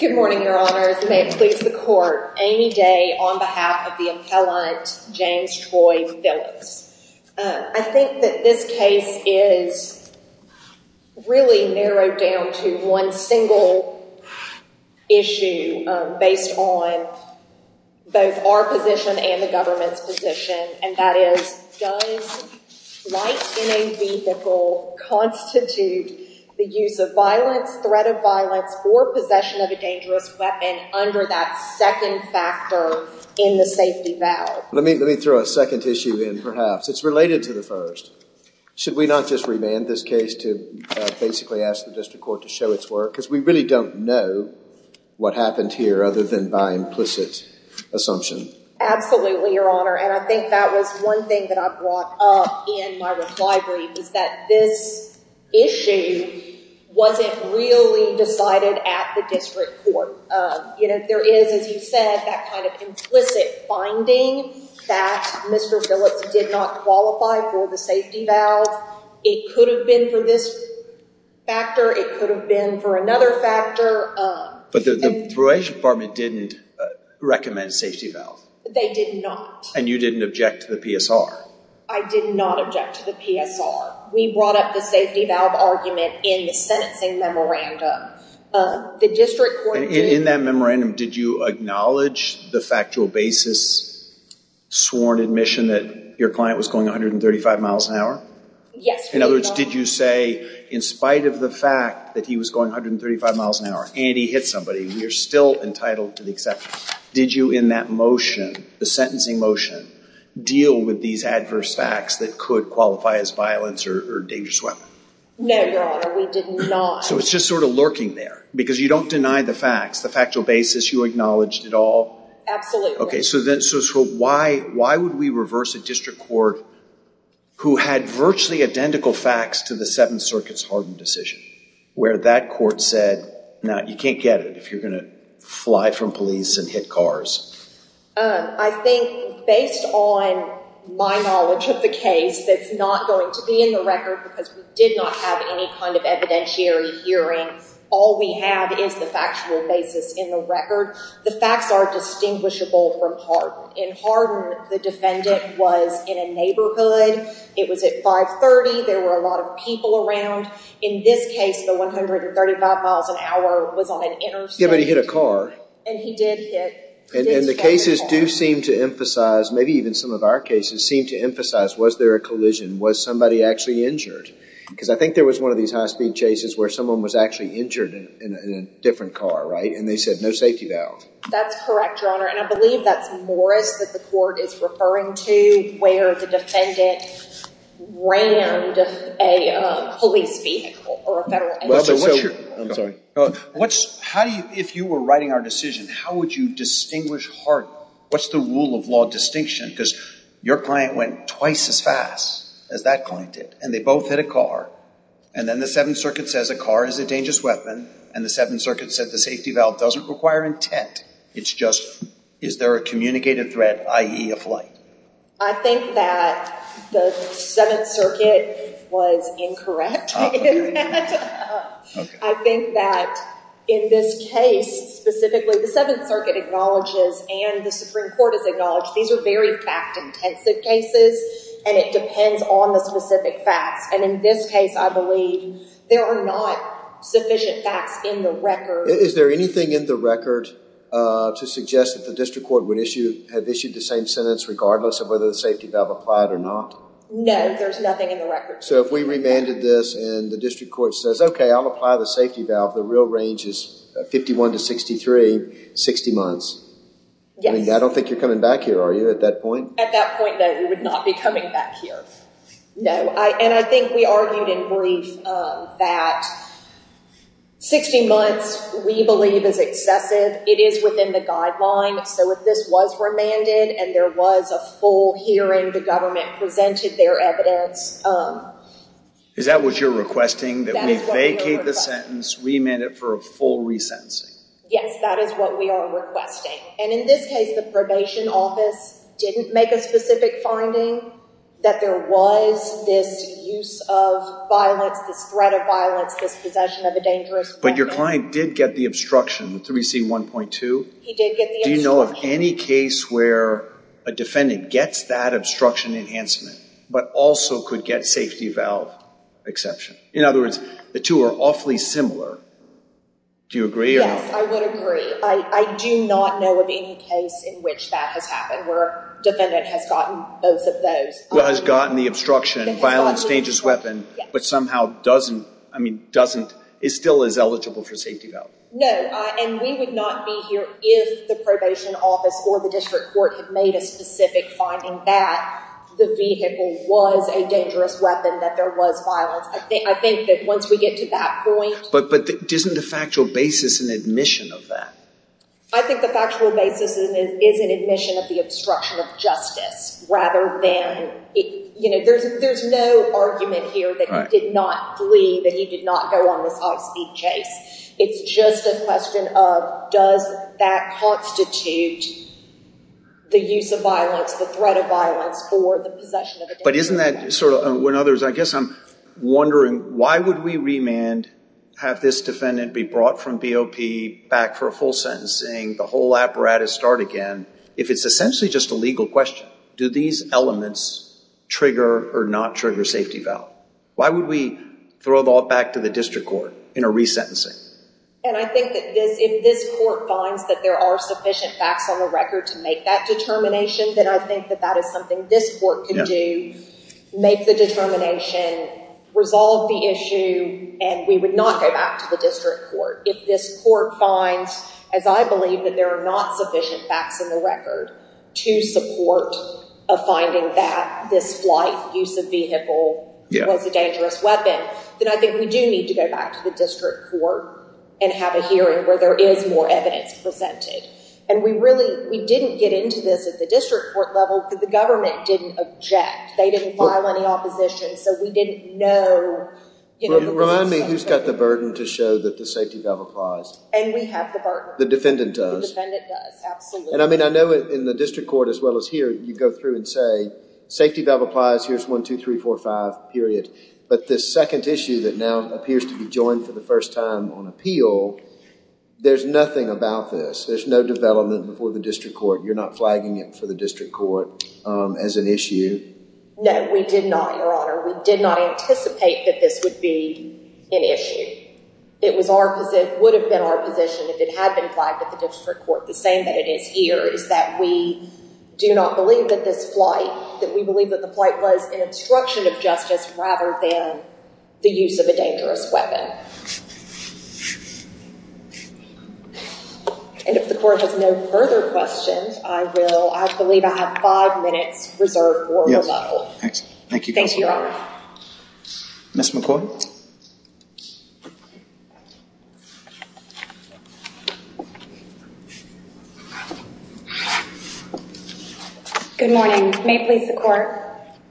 Good morning, your honors. May it please the court, Amy Day on behalf of the appellant James Troy Phillips. I think that this case is really narrowed down to one single issue based on both our position and the government's position, and that is does light in a vehicle constitute the use of violence, threat of violence, or possession of a dangerous weapon under that second factor in the safety valve? Let me throw a second issue in perhaps. It's related to the first. Should we not just remand this case to basically ask the district court to show its work? Because we really don't know what happened here other than by implicit assumption. Absolutely, your honor, and I think that was one thing that I brought up in my reply was that this issue wasn't really decided at the district court. You know, there is, as you said, that kind of implicit finding that Mr. Phillips did not qualify for the safety valve. It could have been for this factor. It could have been for another factor. But the probation department didn't recommend safety valve. They did not. And you didn't object to the PSR? I did not object to the PSR. We brought up the safety valve argument in the sentencing memorandum. In that memorandum, did you acknowledge the factual basis, sworn admission that your client was going 135 miles an hour? Yes. In other words, did you say in spite of the fact that he was going 135 miles an hour and he hit somebody, we are still entitled to the exception. Did you in that motion, the sentencing motion, deal with these adverse facts that could qualify as violence or dangerous weapon? No, your honor, we did not. So it's just sort of lurking there because you don't deny the facts, the factual basis, you acknowledged it all? Absolutely. Okay, so then so why would we reverse a district court who had virtually identical facts to the Seventh Circuit's hardened decision where that court said, now you can't get it if you're going to fly from police and hit cars? I think based on my knowledge of the case, that's not going to be in the record because we did not have any kind of evidentiary hearing. All we have is the factual basis in the record. The facts are distinguishable from hardened. In hardened, the defendant was in a neighborhood. It was at 530. There were a lot of people around. In this case, the 135 miles an hour was on an interstate. Yeah, but he hit a car. And he did hit. And the cases do seem to emphasize, maybe even some of our cases, seem to emphasize, was there a collision? Was somebody actually injured? Because I think there was one of these high-speed chases where someone was actually injured in a different car, right? And they said, no safety valve. That's correct, your honor. And I believe that's Morris that the court is referring to where the defendant rammed a police vehicle or a federal vehicle. I'm sorry. How do you, if you were writing our decision, how would you distinguish hardened? What's the rule of law distinction? Because your client went twice as fast as that client did, and they both hit a car. And then the Seventh Circuit says a car is a dangerous weapon. And the Seventh Circuit said the safety valve doesn't require intent. It's just, is there a communicated threat, i.e. a flight? I think that the Seventh Circuit was incorrect. I think that in this case, specifically, the Seventh Circuit acknowledges and the Supreme Court has acknowledged these are very fact-intensive cases. And it depends on the specific facts. And in this case, I believe there are not sufficient facts in the record. Is there anything in the record to suggest that the district court would issue, have issued the same sentence regardless of whether the safety valve applied or not? No, there's nothing in the record. So if we remanded this and the district court says, okay, I'll apply the safety valve, the real range is 51 to 63, 60 months. I mean, I don't think you're coming back here, are you, at that point? At that point, no, we would not be coming back here. No. And I think we argued in brief that 60 months we believe is excessive. It is within the guideline. So if this was remanded and there a full hearing, the government presented their evidence. Is that what you're requesting? That we vacate the sentence, remand it for a full resentencing? Yes, that is what we are requesting. And in this case, the probation office didn't make a specific finding that there was this use of violence, this threat of violence, this possession of a dangerous weapon. But your client did get the obstruction, the 3C1.2? He did get the obstruction. Do you know of any case where a defendant gets that obstruction enhancement, but also could get safety valve exception? In other words, the two are awfully similar. Do you agree? Yes, I would agree. I do not know of any case in which that has happened where a defendant has gotten both of those. Has gotten the obstruction, violence, dangerous weapon, but somehow doesn't, I mean, still is eligible for safety valve? No, and we would not be here if the probation office or the district court had made a specific finding that the vehicle was a dangerous weapon, that there was violence. I think that once we get to that point... But isn't the factual basis an admission of that? I think the factual basis is an admission of the obstruction of justice rather than... There's no argument here that he did not flee, that he did not go on this high-speed chase. It's just a question of, does that constitute the use of violence, the threat of violence, or the possession of a dangerous weapon? But isn't that sort of, when others, I guess I'm wondering, why would we remand, have this defendant be brought from BOP back for a full sentencing, the whole apparatus start again, if it's essentially just a legal question? Do these elements trigger or not trigger safety valve? Why would we throw it all back to the district court in a resentencing? And I think that if this court finds that there are sufficient facts on the record to make that determination, then I think that that is something this court could do, make the determination, resolve the issue, and we would not go back to the district court. If this court finds, as I believe, that there are not sufficient facts in the record to support a finding that this flight use of vehicle was a dangerous weapon, then I think we do need to go back to the district court and have a hearing where there is more evidence presented. And we really, we didn't get into this at the district court level because the government didn't object. They didn't file any opposition, so we didn't know. Remind me, who's got the burden to show that the safety valve applies? And we have the burden. The defendant does. The defendant does, absolutely. And I mean, I know in the district court, as well as here, you go through and say, safety valve applies, here's one, two, three, four, five, period. But this second issue that now appears to be joined for the first time on appeal, there's nothing about this. There's no development before the district court. You're not flagging it for the district court as an issue? No, we did not, Your Honor. We did not anticipate that this would be an issue. It was our, would have been our position if it had been flagged at the district court. The same that it is here, is that we do not believe that this flight, that we believe that the flight was an obstruction of justice, rather than the use of a dangerous weapon. And if the court has no further questions, I will, I believe I have five minutes reserved for rebuttal. Excellent. Thank you. Thank you, Your Honor. Ms. McCoy. Good morning. May it please the court.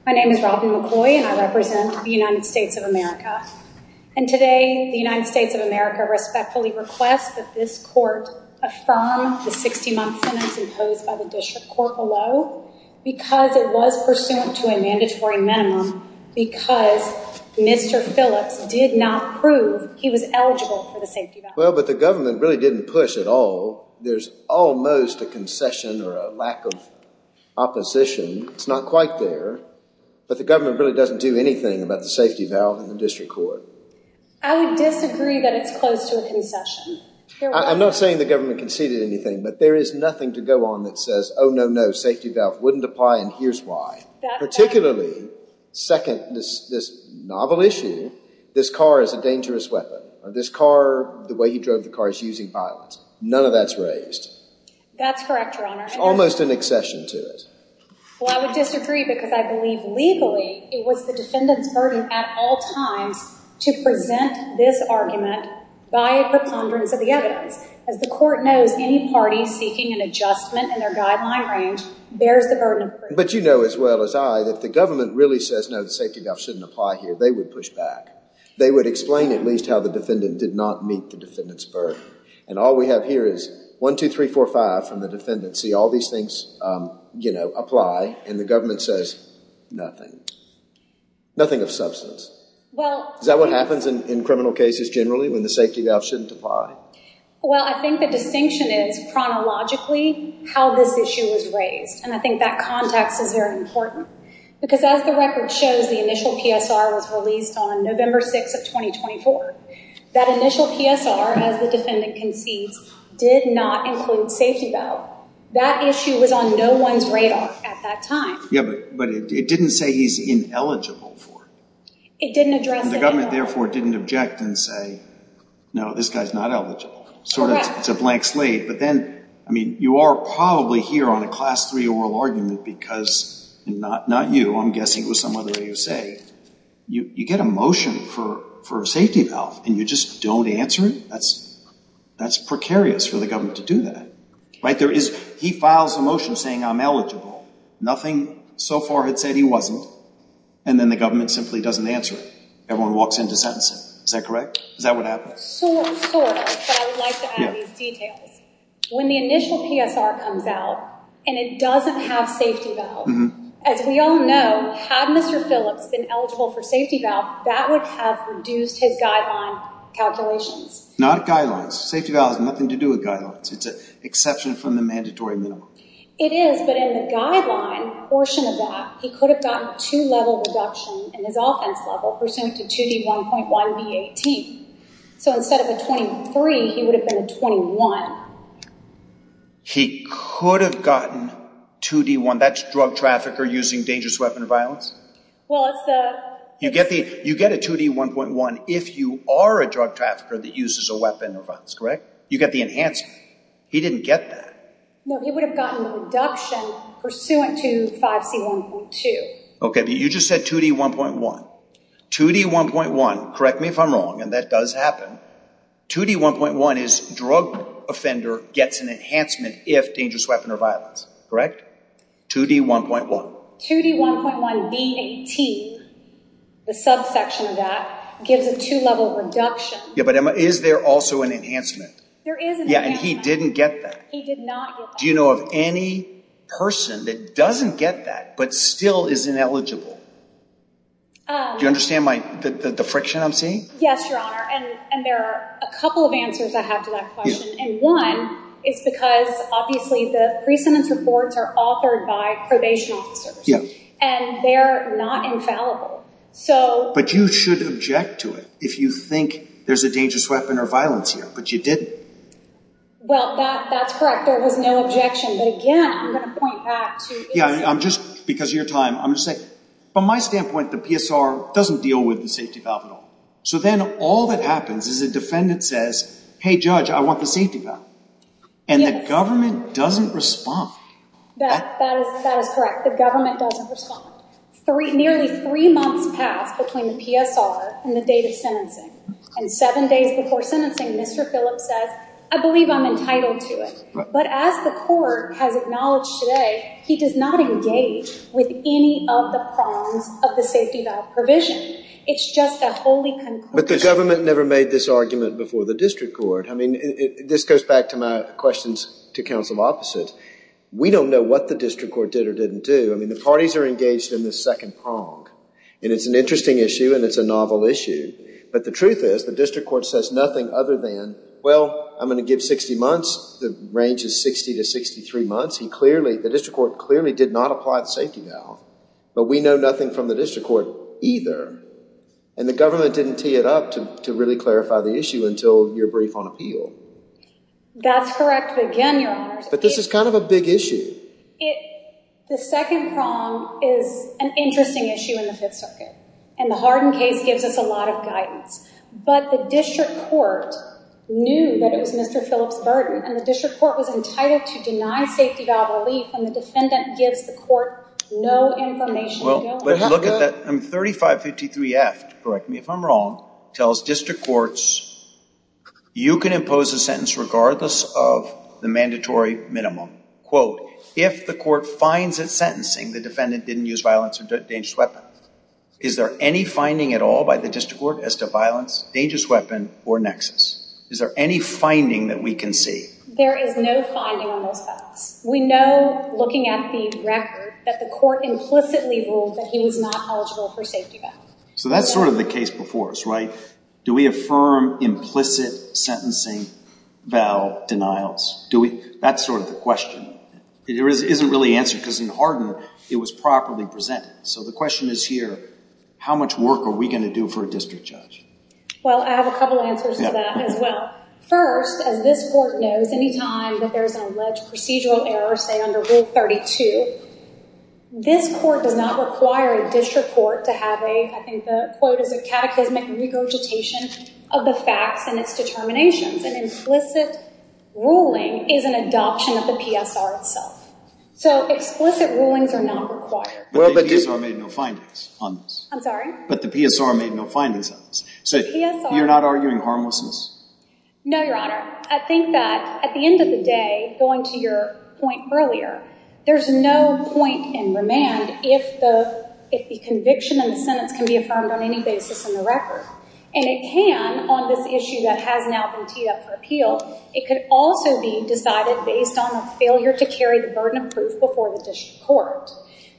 My name is Robin McCoy, and I represent the United States of America. And today, the United States of America respectfully requests that this court affirm the 60-month sentence imposed by the district court below, because it was pursuant to a mandatory minimum, because Mr. Phillips did not prove he was eligible for the safety valve. Well, but the government really didn't push at all. There's almost a concession or a lack of opposition. It's not quite there. But the government really doesn't do anything about the safety valve in the district court. I would disagree that it's close to a concession. I'm not saying the government conceded anything, but there is nothing to go on that says, oh, no, no, safety valve wouldn't apply, and here's why. Particularly, second, this novel issue, this car is a dangerous weapon. This car, the way he drove the car is using violence. None of that's raised. That's correct, Your Honor. Almost an accession to it. Well, I would disagree, because I believe legally, it was the defendant's burden at all times to present this argument by a preponderance of the evidence. As the court knows, any party seeking an adjustment in their guideline range bears the burden of proof. But you know as well as I that if the government really says, no, the safety valve shouldn't apply here, they would push back. They would explain at least how the defendant did not meet the defendant's burden. And all we have here is 1, 2, 3, 4, 5 from the defendant, see all these things apply, and the government says nothing. Nothing of substance. Is that what happens in criminal cases generally, when the safety valve shouldn't apply? Well, I think the distinction is chronologically how this issue was raised. And I think that context is very important. Because as the record shows, the initial PSR was released on November 6 of 2024. That initial PSR, as the defendant concedes, did not include safety valve. That issue was on no one's radar at that time. Yeah, but it didn't say he's ineligible for it. It didn't address it. The government, therefore, didn't object and say, no, this guy's not eligible. Sort of, it's a blank slate. But then, I mean, you are probably here on a class 3 oral argument, because, and not you, I'm guessing it was someone that you say, you get a motion for a safety valve, and you just don't answer it? That's precarious for the government to do that, right? He files a motion saying, I'm eligible. Nothing so far had said he wasn't. And then the government simply doesn't answer it. Everyone walks into sentencing. Is that correct? Is that what happens? Sort of, sort of. But I would like to add these details. When the initial PSR comes out, and it doesn't have safety valve, as we all know, had Mr. Phillips been eligible for safety valve, that would have reduced his guideline calculations. Not guidelines. Safety valve has nothing to do with guidelines. It's an exception from the mandatory minimum. It is, but in the guideline portion of that, he could have gotten a two-level reduction in his offense level, pursuant to 2D1.1B18. So instead of a 23, he would have been a 21. He could have gotten 2D1, that's drug trafficker using dangerous weapon of violence? Well, it's the... You get a 2D1.1 if you are a drug trafficker that uses a weapon of violence, correct? You get the enhancement. He didn't get that. No, he would have gotten a reduction pursuant to 5C1.2. Okay, but you just said 2D1.1. 2D1.1, correct me if I'm wrong, and that does happen. 2D1.1 is drug offender gets an enhancement if dangerous weapon of violence, correct? 2D1.1. 2D1.1B18, the subsection of that, gives a two-level reduction. Yeah, but Emma, is there also an enhancement? There is an enhancement. Yeah, and he didn't get that. He did not get that. Do you know of any person that doesn't get that, but still is ineligible? Do you understand the friction I'm seeing? Yes, Your Honor, and there are a couple of answers I have to that question, and one is because obviously the pre-sentence reports are authored by probation officers, and they're not infallible. But you should object to it if you think there's a dangerous weapon or violence here, but you didn't. Well, that's correct. There was no objection, but again, I'm going to point back to... Yeah, I'm just, because of your time, I'm just saying, from my standpoint, the PSR doesn't deal with the safety valve at all. Then all that happens is a defendant says, hey, judge, I want the safety valve, and the government doesn't respond. That is correct. The government doesn't respond. Nearly three months passed between the PSR and the date of sentencing, and seven days before sentencing, Mr. Phillips says, I believe I'm entitled to it. But as the court has acknowledged today, he does not engage with any of the prongs of the safety valve provision. It's just a wholly concordant... But the government never made this argument before the district court. I mean, this goes back to my questions to counsel opposite. We don't know what the district court did or didn't do. I mean, the parties are engaged in the second prong, and it's an interesting issue, and it's a novel issue. But the truth is, the district court says nothing other than, well, I'm going to give 60 months. The range is 60 to 63 months. The district court clearly did not apply the safety valve, but we know nothing from the district court either. And the government didn't tee it up to really clarify the issue until your brief on appeal. That's correct. But again, Your Honor... But this is kind of a big issue. The second prong is an interesting issue in the Fifth Circuit, and the Harden case gives us a lot of guidance. But the district court knew that it was Mr. Phillips' burden, and the district court was entitled to deny safety valve relief and the defendant gives the court no information. Well, let's look at that. 3553F, correct me if I'm wrong, tells district courts, you can impose a sentence regardless of the mandatory minimum. Quote, if the court finds it sentencing, the defendant didn't use violence or dangerous weapon. Is there any finding at all by the district court as to violence, dangerous weapon, or nexus? Is there any finding that we can see? There is no finding on those facts. We know, looking at the record, that the court implicitly ruled that he was not eligible for safety valve. So that's sort of the case before us, right? Do we affirm implicit sentencing valve denials? That's sort of the question. It isn't really answered because in Harden, it was properly presented. So the question is here, how much work are we going to do for a district judge? Well, I have a couple answers to that as well. First, as this court knows, any time that there's an alleged procedural error, say under Rule 32, this court does not require a district court to have a, I think the quote is a catechismic regurgitation of the facts and its determinations. An implicit ruling is an adoption of the PSR itself. So explicit rulings are not required. Well, but the PSR made no findings on this. I'm sorry? But the PSR made no findings on this. So you're not arguing harmlessness? No, Your Honor. I think that at the end of the day, going to your point earlier, there's no point in remand if the conviction in the sentence can be affirmed on any basis in the record. And it can on this issue that has now been teed up for appeal. It could also be decided based on a failure to carry the burden of proof before the district court.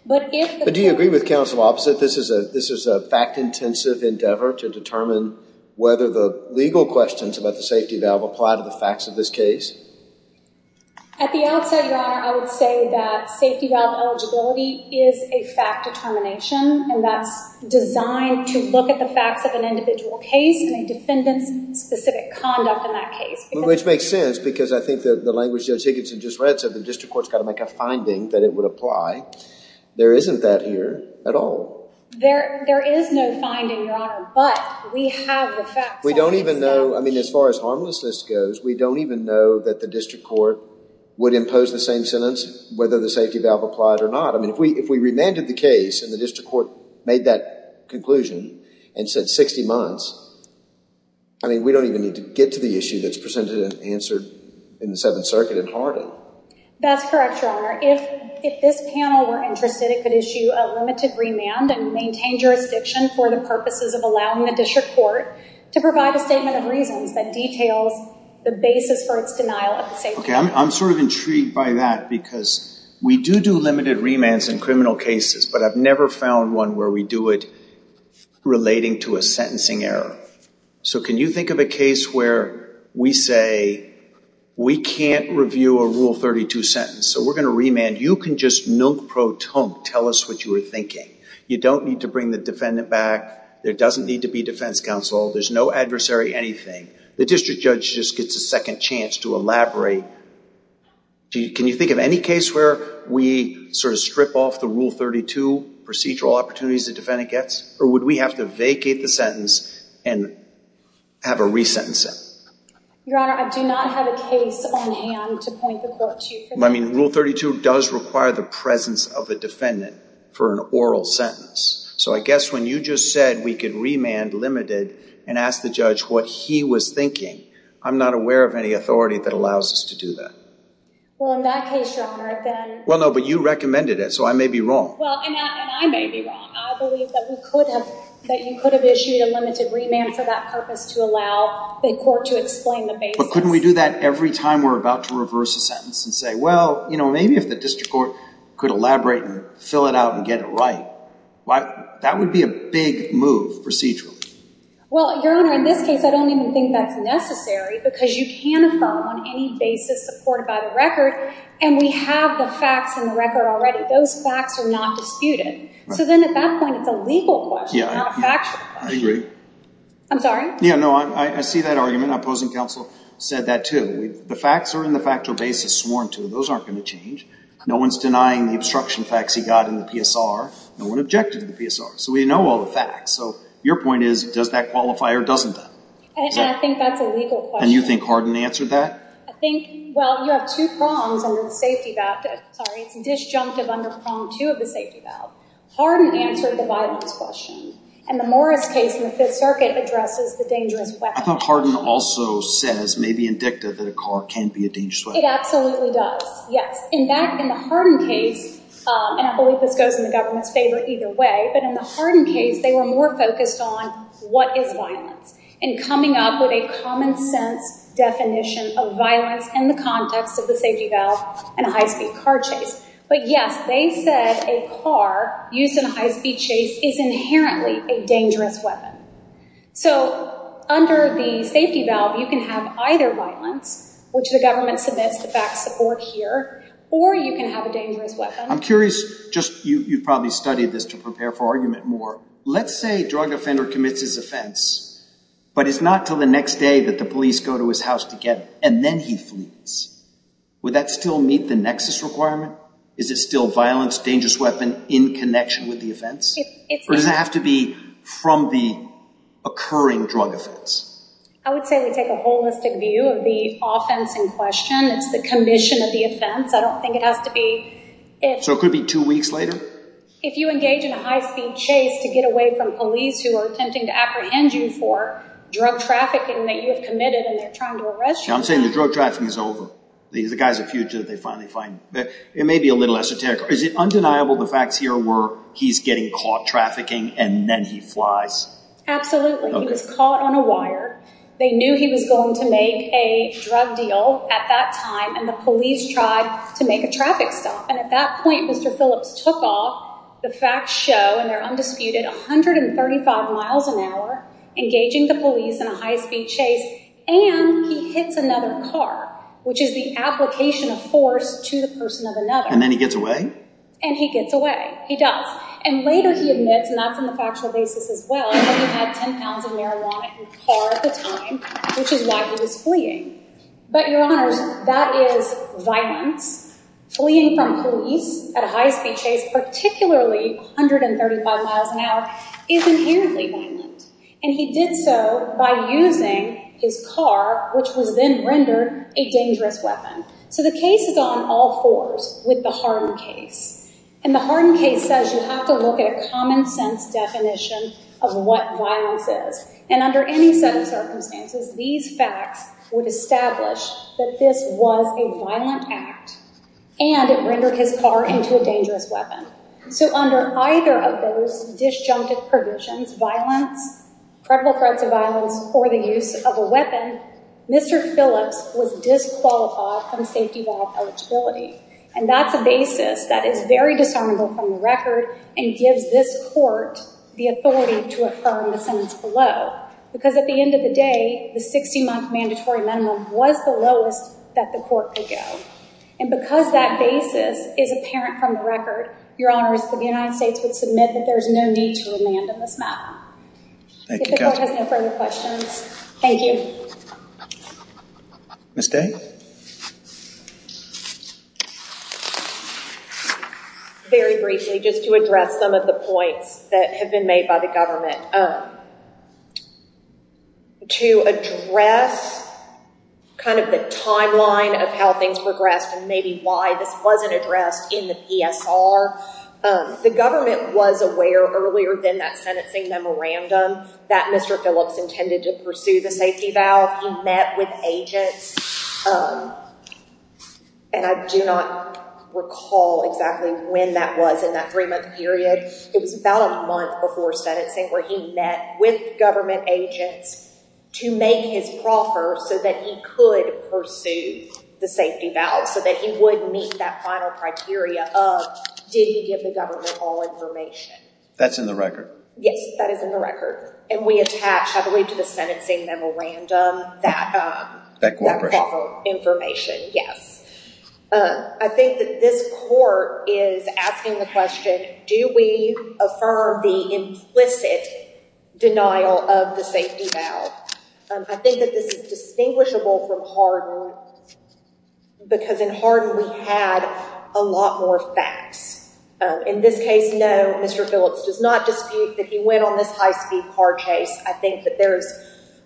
But do you agree with counsel opposite? This is a fact-intensive endeavor to determine whether the legal questions about the safety valve apply to the facts of this case? At the outset, Your Honor, I would say that safety valve eligibility is a fact determination. And that's designed to look at the facts of an individual case and a defendant's specific conduct in that case. Which makes sense because I think that the language Judge Higginson just read said the district court's got to make a finding that it would apply. There isn't that here at all. There is no finding, Your Honor. But we have the facts. We don't even know. I mean, as far as harmlessness goes, we don't even know that the district court would impose the same sentence whether the safety valve applied or not. I mean, if we remanded the case and the district court made that conclusion and said 60 months, I mean, we don't even need to get to the issue that's presented and answered in the Seventh Circuit in Harding. That's correct, Your Honor. If this panel were interested, it could issue a limited remand and maintain jurisdiction for the purposes of allowing the district court to provide a statement of reasons that details the basis for its denial of the safety valve. Okay, I'm sort of intrigued by that because we do do limited remands in criminal cases, but I've never found one where we do it relating to a sentencing error. So can you think of a case where we say, we can't review a Rule 32 sentence, so we're going to remand. You can just nunc pro tonc tell us what you were thinking. You don't need to bring the defendant back. There doesn't need to be defense counsel. There's no adversary, anything. The district judge just gets a second chance to elaborate. Can you think of any case where we sort of strip off the Rule 32 procedural opportunities the defendant gets? Or would we have to vacate the sentence and have a resentencing? Your Honor, I do not have a case on hand to point the court to for that. I mean, Rule 32 does require the presence of a defendant for an oral sentence. So I guess when you just said we could remand limited and ask the judge what he was thinking, I'm not aware of any authority that allows us to do that. Well, in that case, Your Honor, then... Well, no, but you recommended it, so I may be wrong. Well, and I may be wrong. I believe that we could have, that you could have issued a limited remand for that purpose to allow the court to explain the basis. But couldn't we do that every time we're about to reverse a sentence and say, well, you know, maybe if the district court could elaborate and fill it out and get it right. That would be a big move procedurally. Well, Your Honor, in this case, I don't even think that's necessary because you can affirm on any basis supported by the record and we have the facts in the record already. Those facts are not disputed. So then at that point, it's a legal question, not a factual question. I agree. I'm sorry? Yeah, no, I see that argument. Opposing counsel said that too. The facts are in the factual basis sworn to. Those aren't going to change. No one's denying the obstruction facts he got in the PSR. No one objected to the PSR. So we know all the facts. So your point is, does that qualify or doesn't that? And I think that's a legal question. And you think Harden answered that? I think, well, you have two prongs under the safety valve. Sorry, it's disjunctive under prong two of the safety valve. Harden answered the violence question. And the Morris case in the Fifth Circuit addresses the dangerous weapon. I thought Harden also says, maybe indicted, that a car can be a dangerous weapon. It absolutely does. Yes, in the Harden case, and I believe this goes in the government's favor either way, but in the Harden case, they were more focused on what is violence and coming up with a common sense definition of violence in the context of the safety valve and a high-speed car chase. But yes, they said a car used in a high-speed chase is inherently a dangerous weapon. So under the safety valve, you can have either violence, which the government submits to back support here, or you can have a dangerous weapon. I'm curious, you've probably studied this to prepare for argument more. Let's say a drug offender commits his offense, but it's not until the next day that the police go to his house to get him. And then he flees. Would that still meet the nexus requirement? Is it still violence, dangerous weapon, in connection with the offense? Or does it have to be from the occurring drug offense? I would say we take a holistic view of the offense in question. It's the commission of the offense. I don't think it has to be. So it could be two weeks later? If you engage in a high-speed chase to get away from police who are attempting to apprehend you for drug trafficking that you have committed, and they're trying to arrest you. I'm saying the drug trafficking is over. The guy's a fugitive. They finally find him. It may be a little esoteric. Is it undeniable the facts here were he's getting caught trafficking, and then he flies? Absolutely. He was caught on a wire. They knew he was going to make a drug deal. At that time, the police tried to make a traffic stop. And at that point, Mr. Phillips took off. The facts show, and they're undisputed, 135 miles an hour, engaging the police in a high-speed chase, and he hits another car, which is the application of force to the person of another. And then he gets away? And he gets away. He does. And later, he admits, and that's in the factual basis as well, that he had 10 pounds of marijuana in the car at the time, which is why he was fleeing. But your honors, that is violence. Fleeing from police at a high-speed chase, particularly 135 miles an hour, is inherently violent. And he did so by using his car, which was then rendered a dangerous weapon. So the case is on all fours with the Harden case. And the Harden case says you have to look at a common-sense definition of what violence is. And under any set of circumstances, these facts would establish that this was a violent act, and it rendered his car into a dangerous weapon. So under either of those disjunctive provisions, violence, credible threats of violence, or the use of a weapon, Mr. Phillips was disqualified from safety valve eligibility. And that's a basis that is very disarmable from the record and gives this court the authority to affirm the sentence below. Because at the end of the day, the 60-month mandatory minimum was the lowest that the court could go. And because that basis is apparent from the record, your honors, the United States would submit that there is no need to remand on this matter. Thank you, counsel. If the court has no further questions, thank you. Ms. Day? Very briefly, just to address some of the points that have been made by the government. To address kind of the timeline of how things progressed and maybe why this wasn't addressed in the PSR, the government was aware earlier than that sentencing memorandum that Mr. Phillips intended to pursue the safety valve. He met with agents. And I do not recall exactly when that was in that three-month period. It was about a month before sentencing where he met with government agents to make his proffer so that he could pursue the safety valve, so that he would meet that final criteria of, did he give the government all information? That's in the record. Yes, that is in the record. And we attach, I believe, to the sentencing memorandum that that proper information. I think that this court is asking the question, do we affirm the implicit denial of the safety valve? I think that this is distinguishable from Harden because in Harden we had a lot more facts. In this case, no, Mr. Phillips does not dispute that he went on this high-speed car chase. I think that there's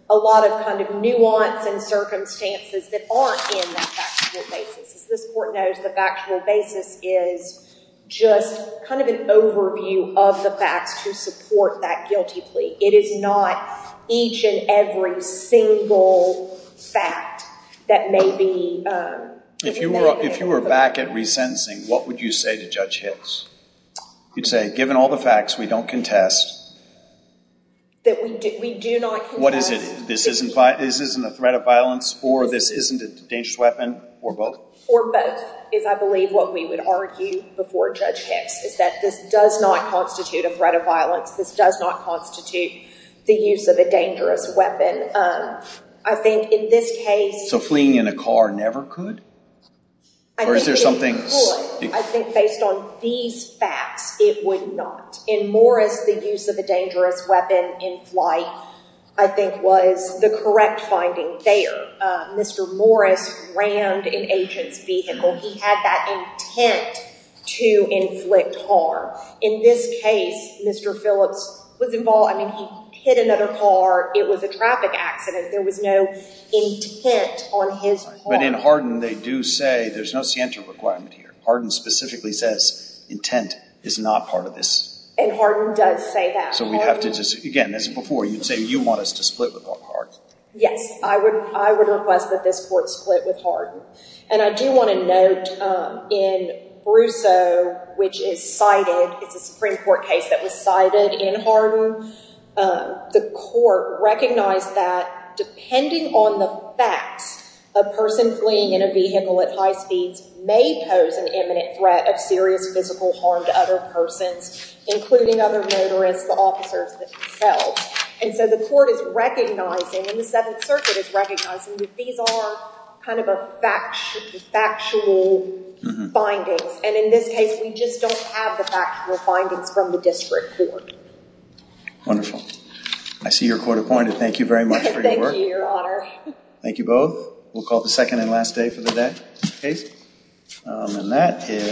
a lot of kind of nuance and circumstances that aren't in that factual basis. As this court knows, the factual basis is just kind of an overview of the facts to support that guilty plea. It is not each and every single fact that may be in that way. If you were back at resentencing, what would you say to Judge Hicks? You'd say, given all the facts, we don't contest. That we do not contest. What is it? This isn't a threat of violence, or this isn't a dangerous weapon, or both? Or both is, I believe, what we would argue before Judge Hicks, is that this does not constitute a threat of violence. This does not constitute the use of a dangerous weapon. I think in this case... So fleeing in a car never could? I think it could. I think based on these facts, it would not. In Morris, the use of a dangerous weapon in flight, I think, was the correct finding there. Mr. Morris rammed an agent's vehicle. He had that intent to inflict harm. In this case, Mr. Phillips was involved. I mean, he hit another car. It was a traffic accident. There was no intent on his part. But in Hardin, they do say there's no scienter requirement here. Hardin specifically says intent is not part of this. And Hardin does say that. So we'd have to just... Again, as before, you'd say you want us to split with Rob Hardin. Yes. I would request that this court split with Hardin. And I do want to note in Brousseau, which is cited... It's a Supreme Court case that was cited in Hardin. The court recognized that depending on the facts, a person fleeing in a vehicle at high speeds may pose an imminent threat of serious physical harm to other persons, including other motorists, the officers themselves. And so the court is recognizing, and the Seventh Circuit is recognizing, that these are kind of factual findings. And in this case, we just don't have the factual findings from the district court. Wonderful. I see you're court-appointed. Thank you very much for your work. Thank you, Your Honor. Thank you both. We'll call the second and last day for the day case. And that is...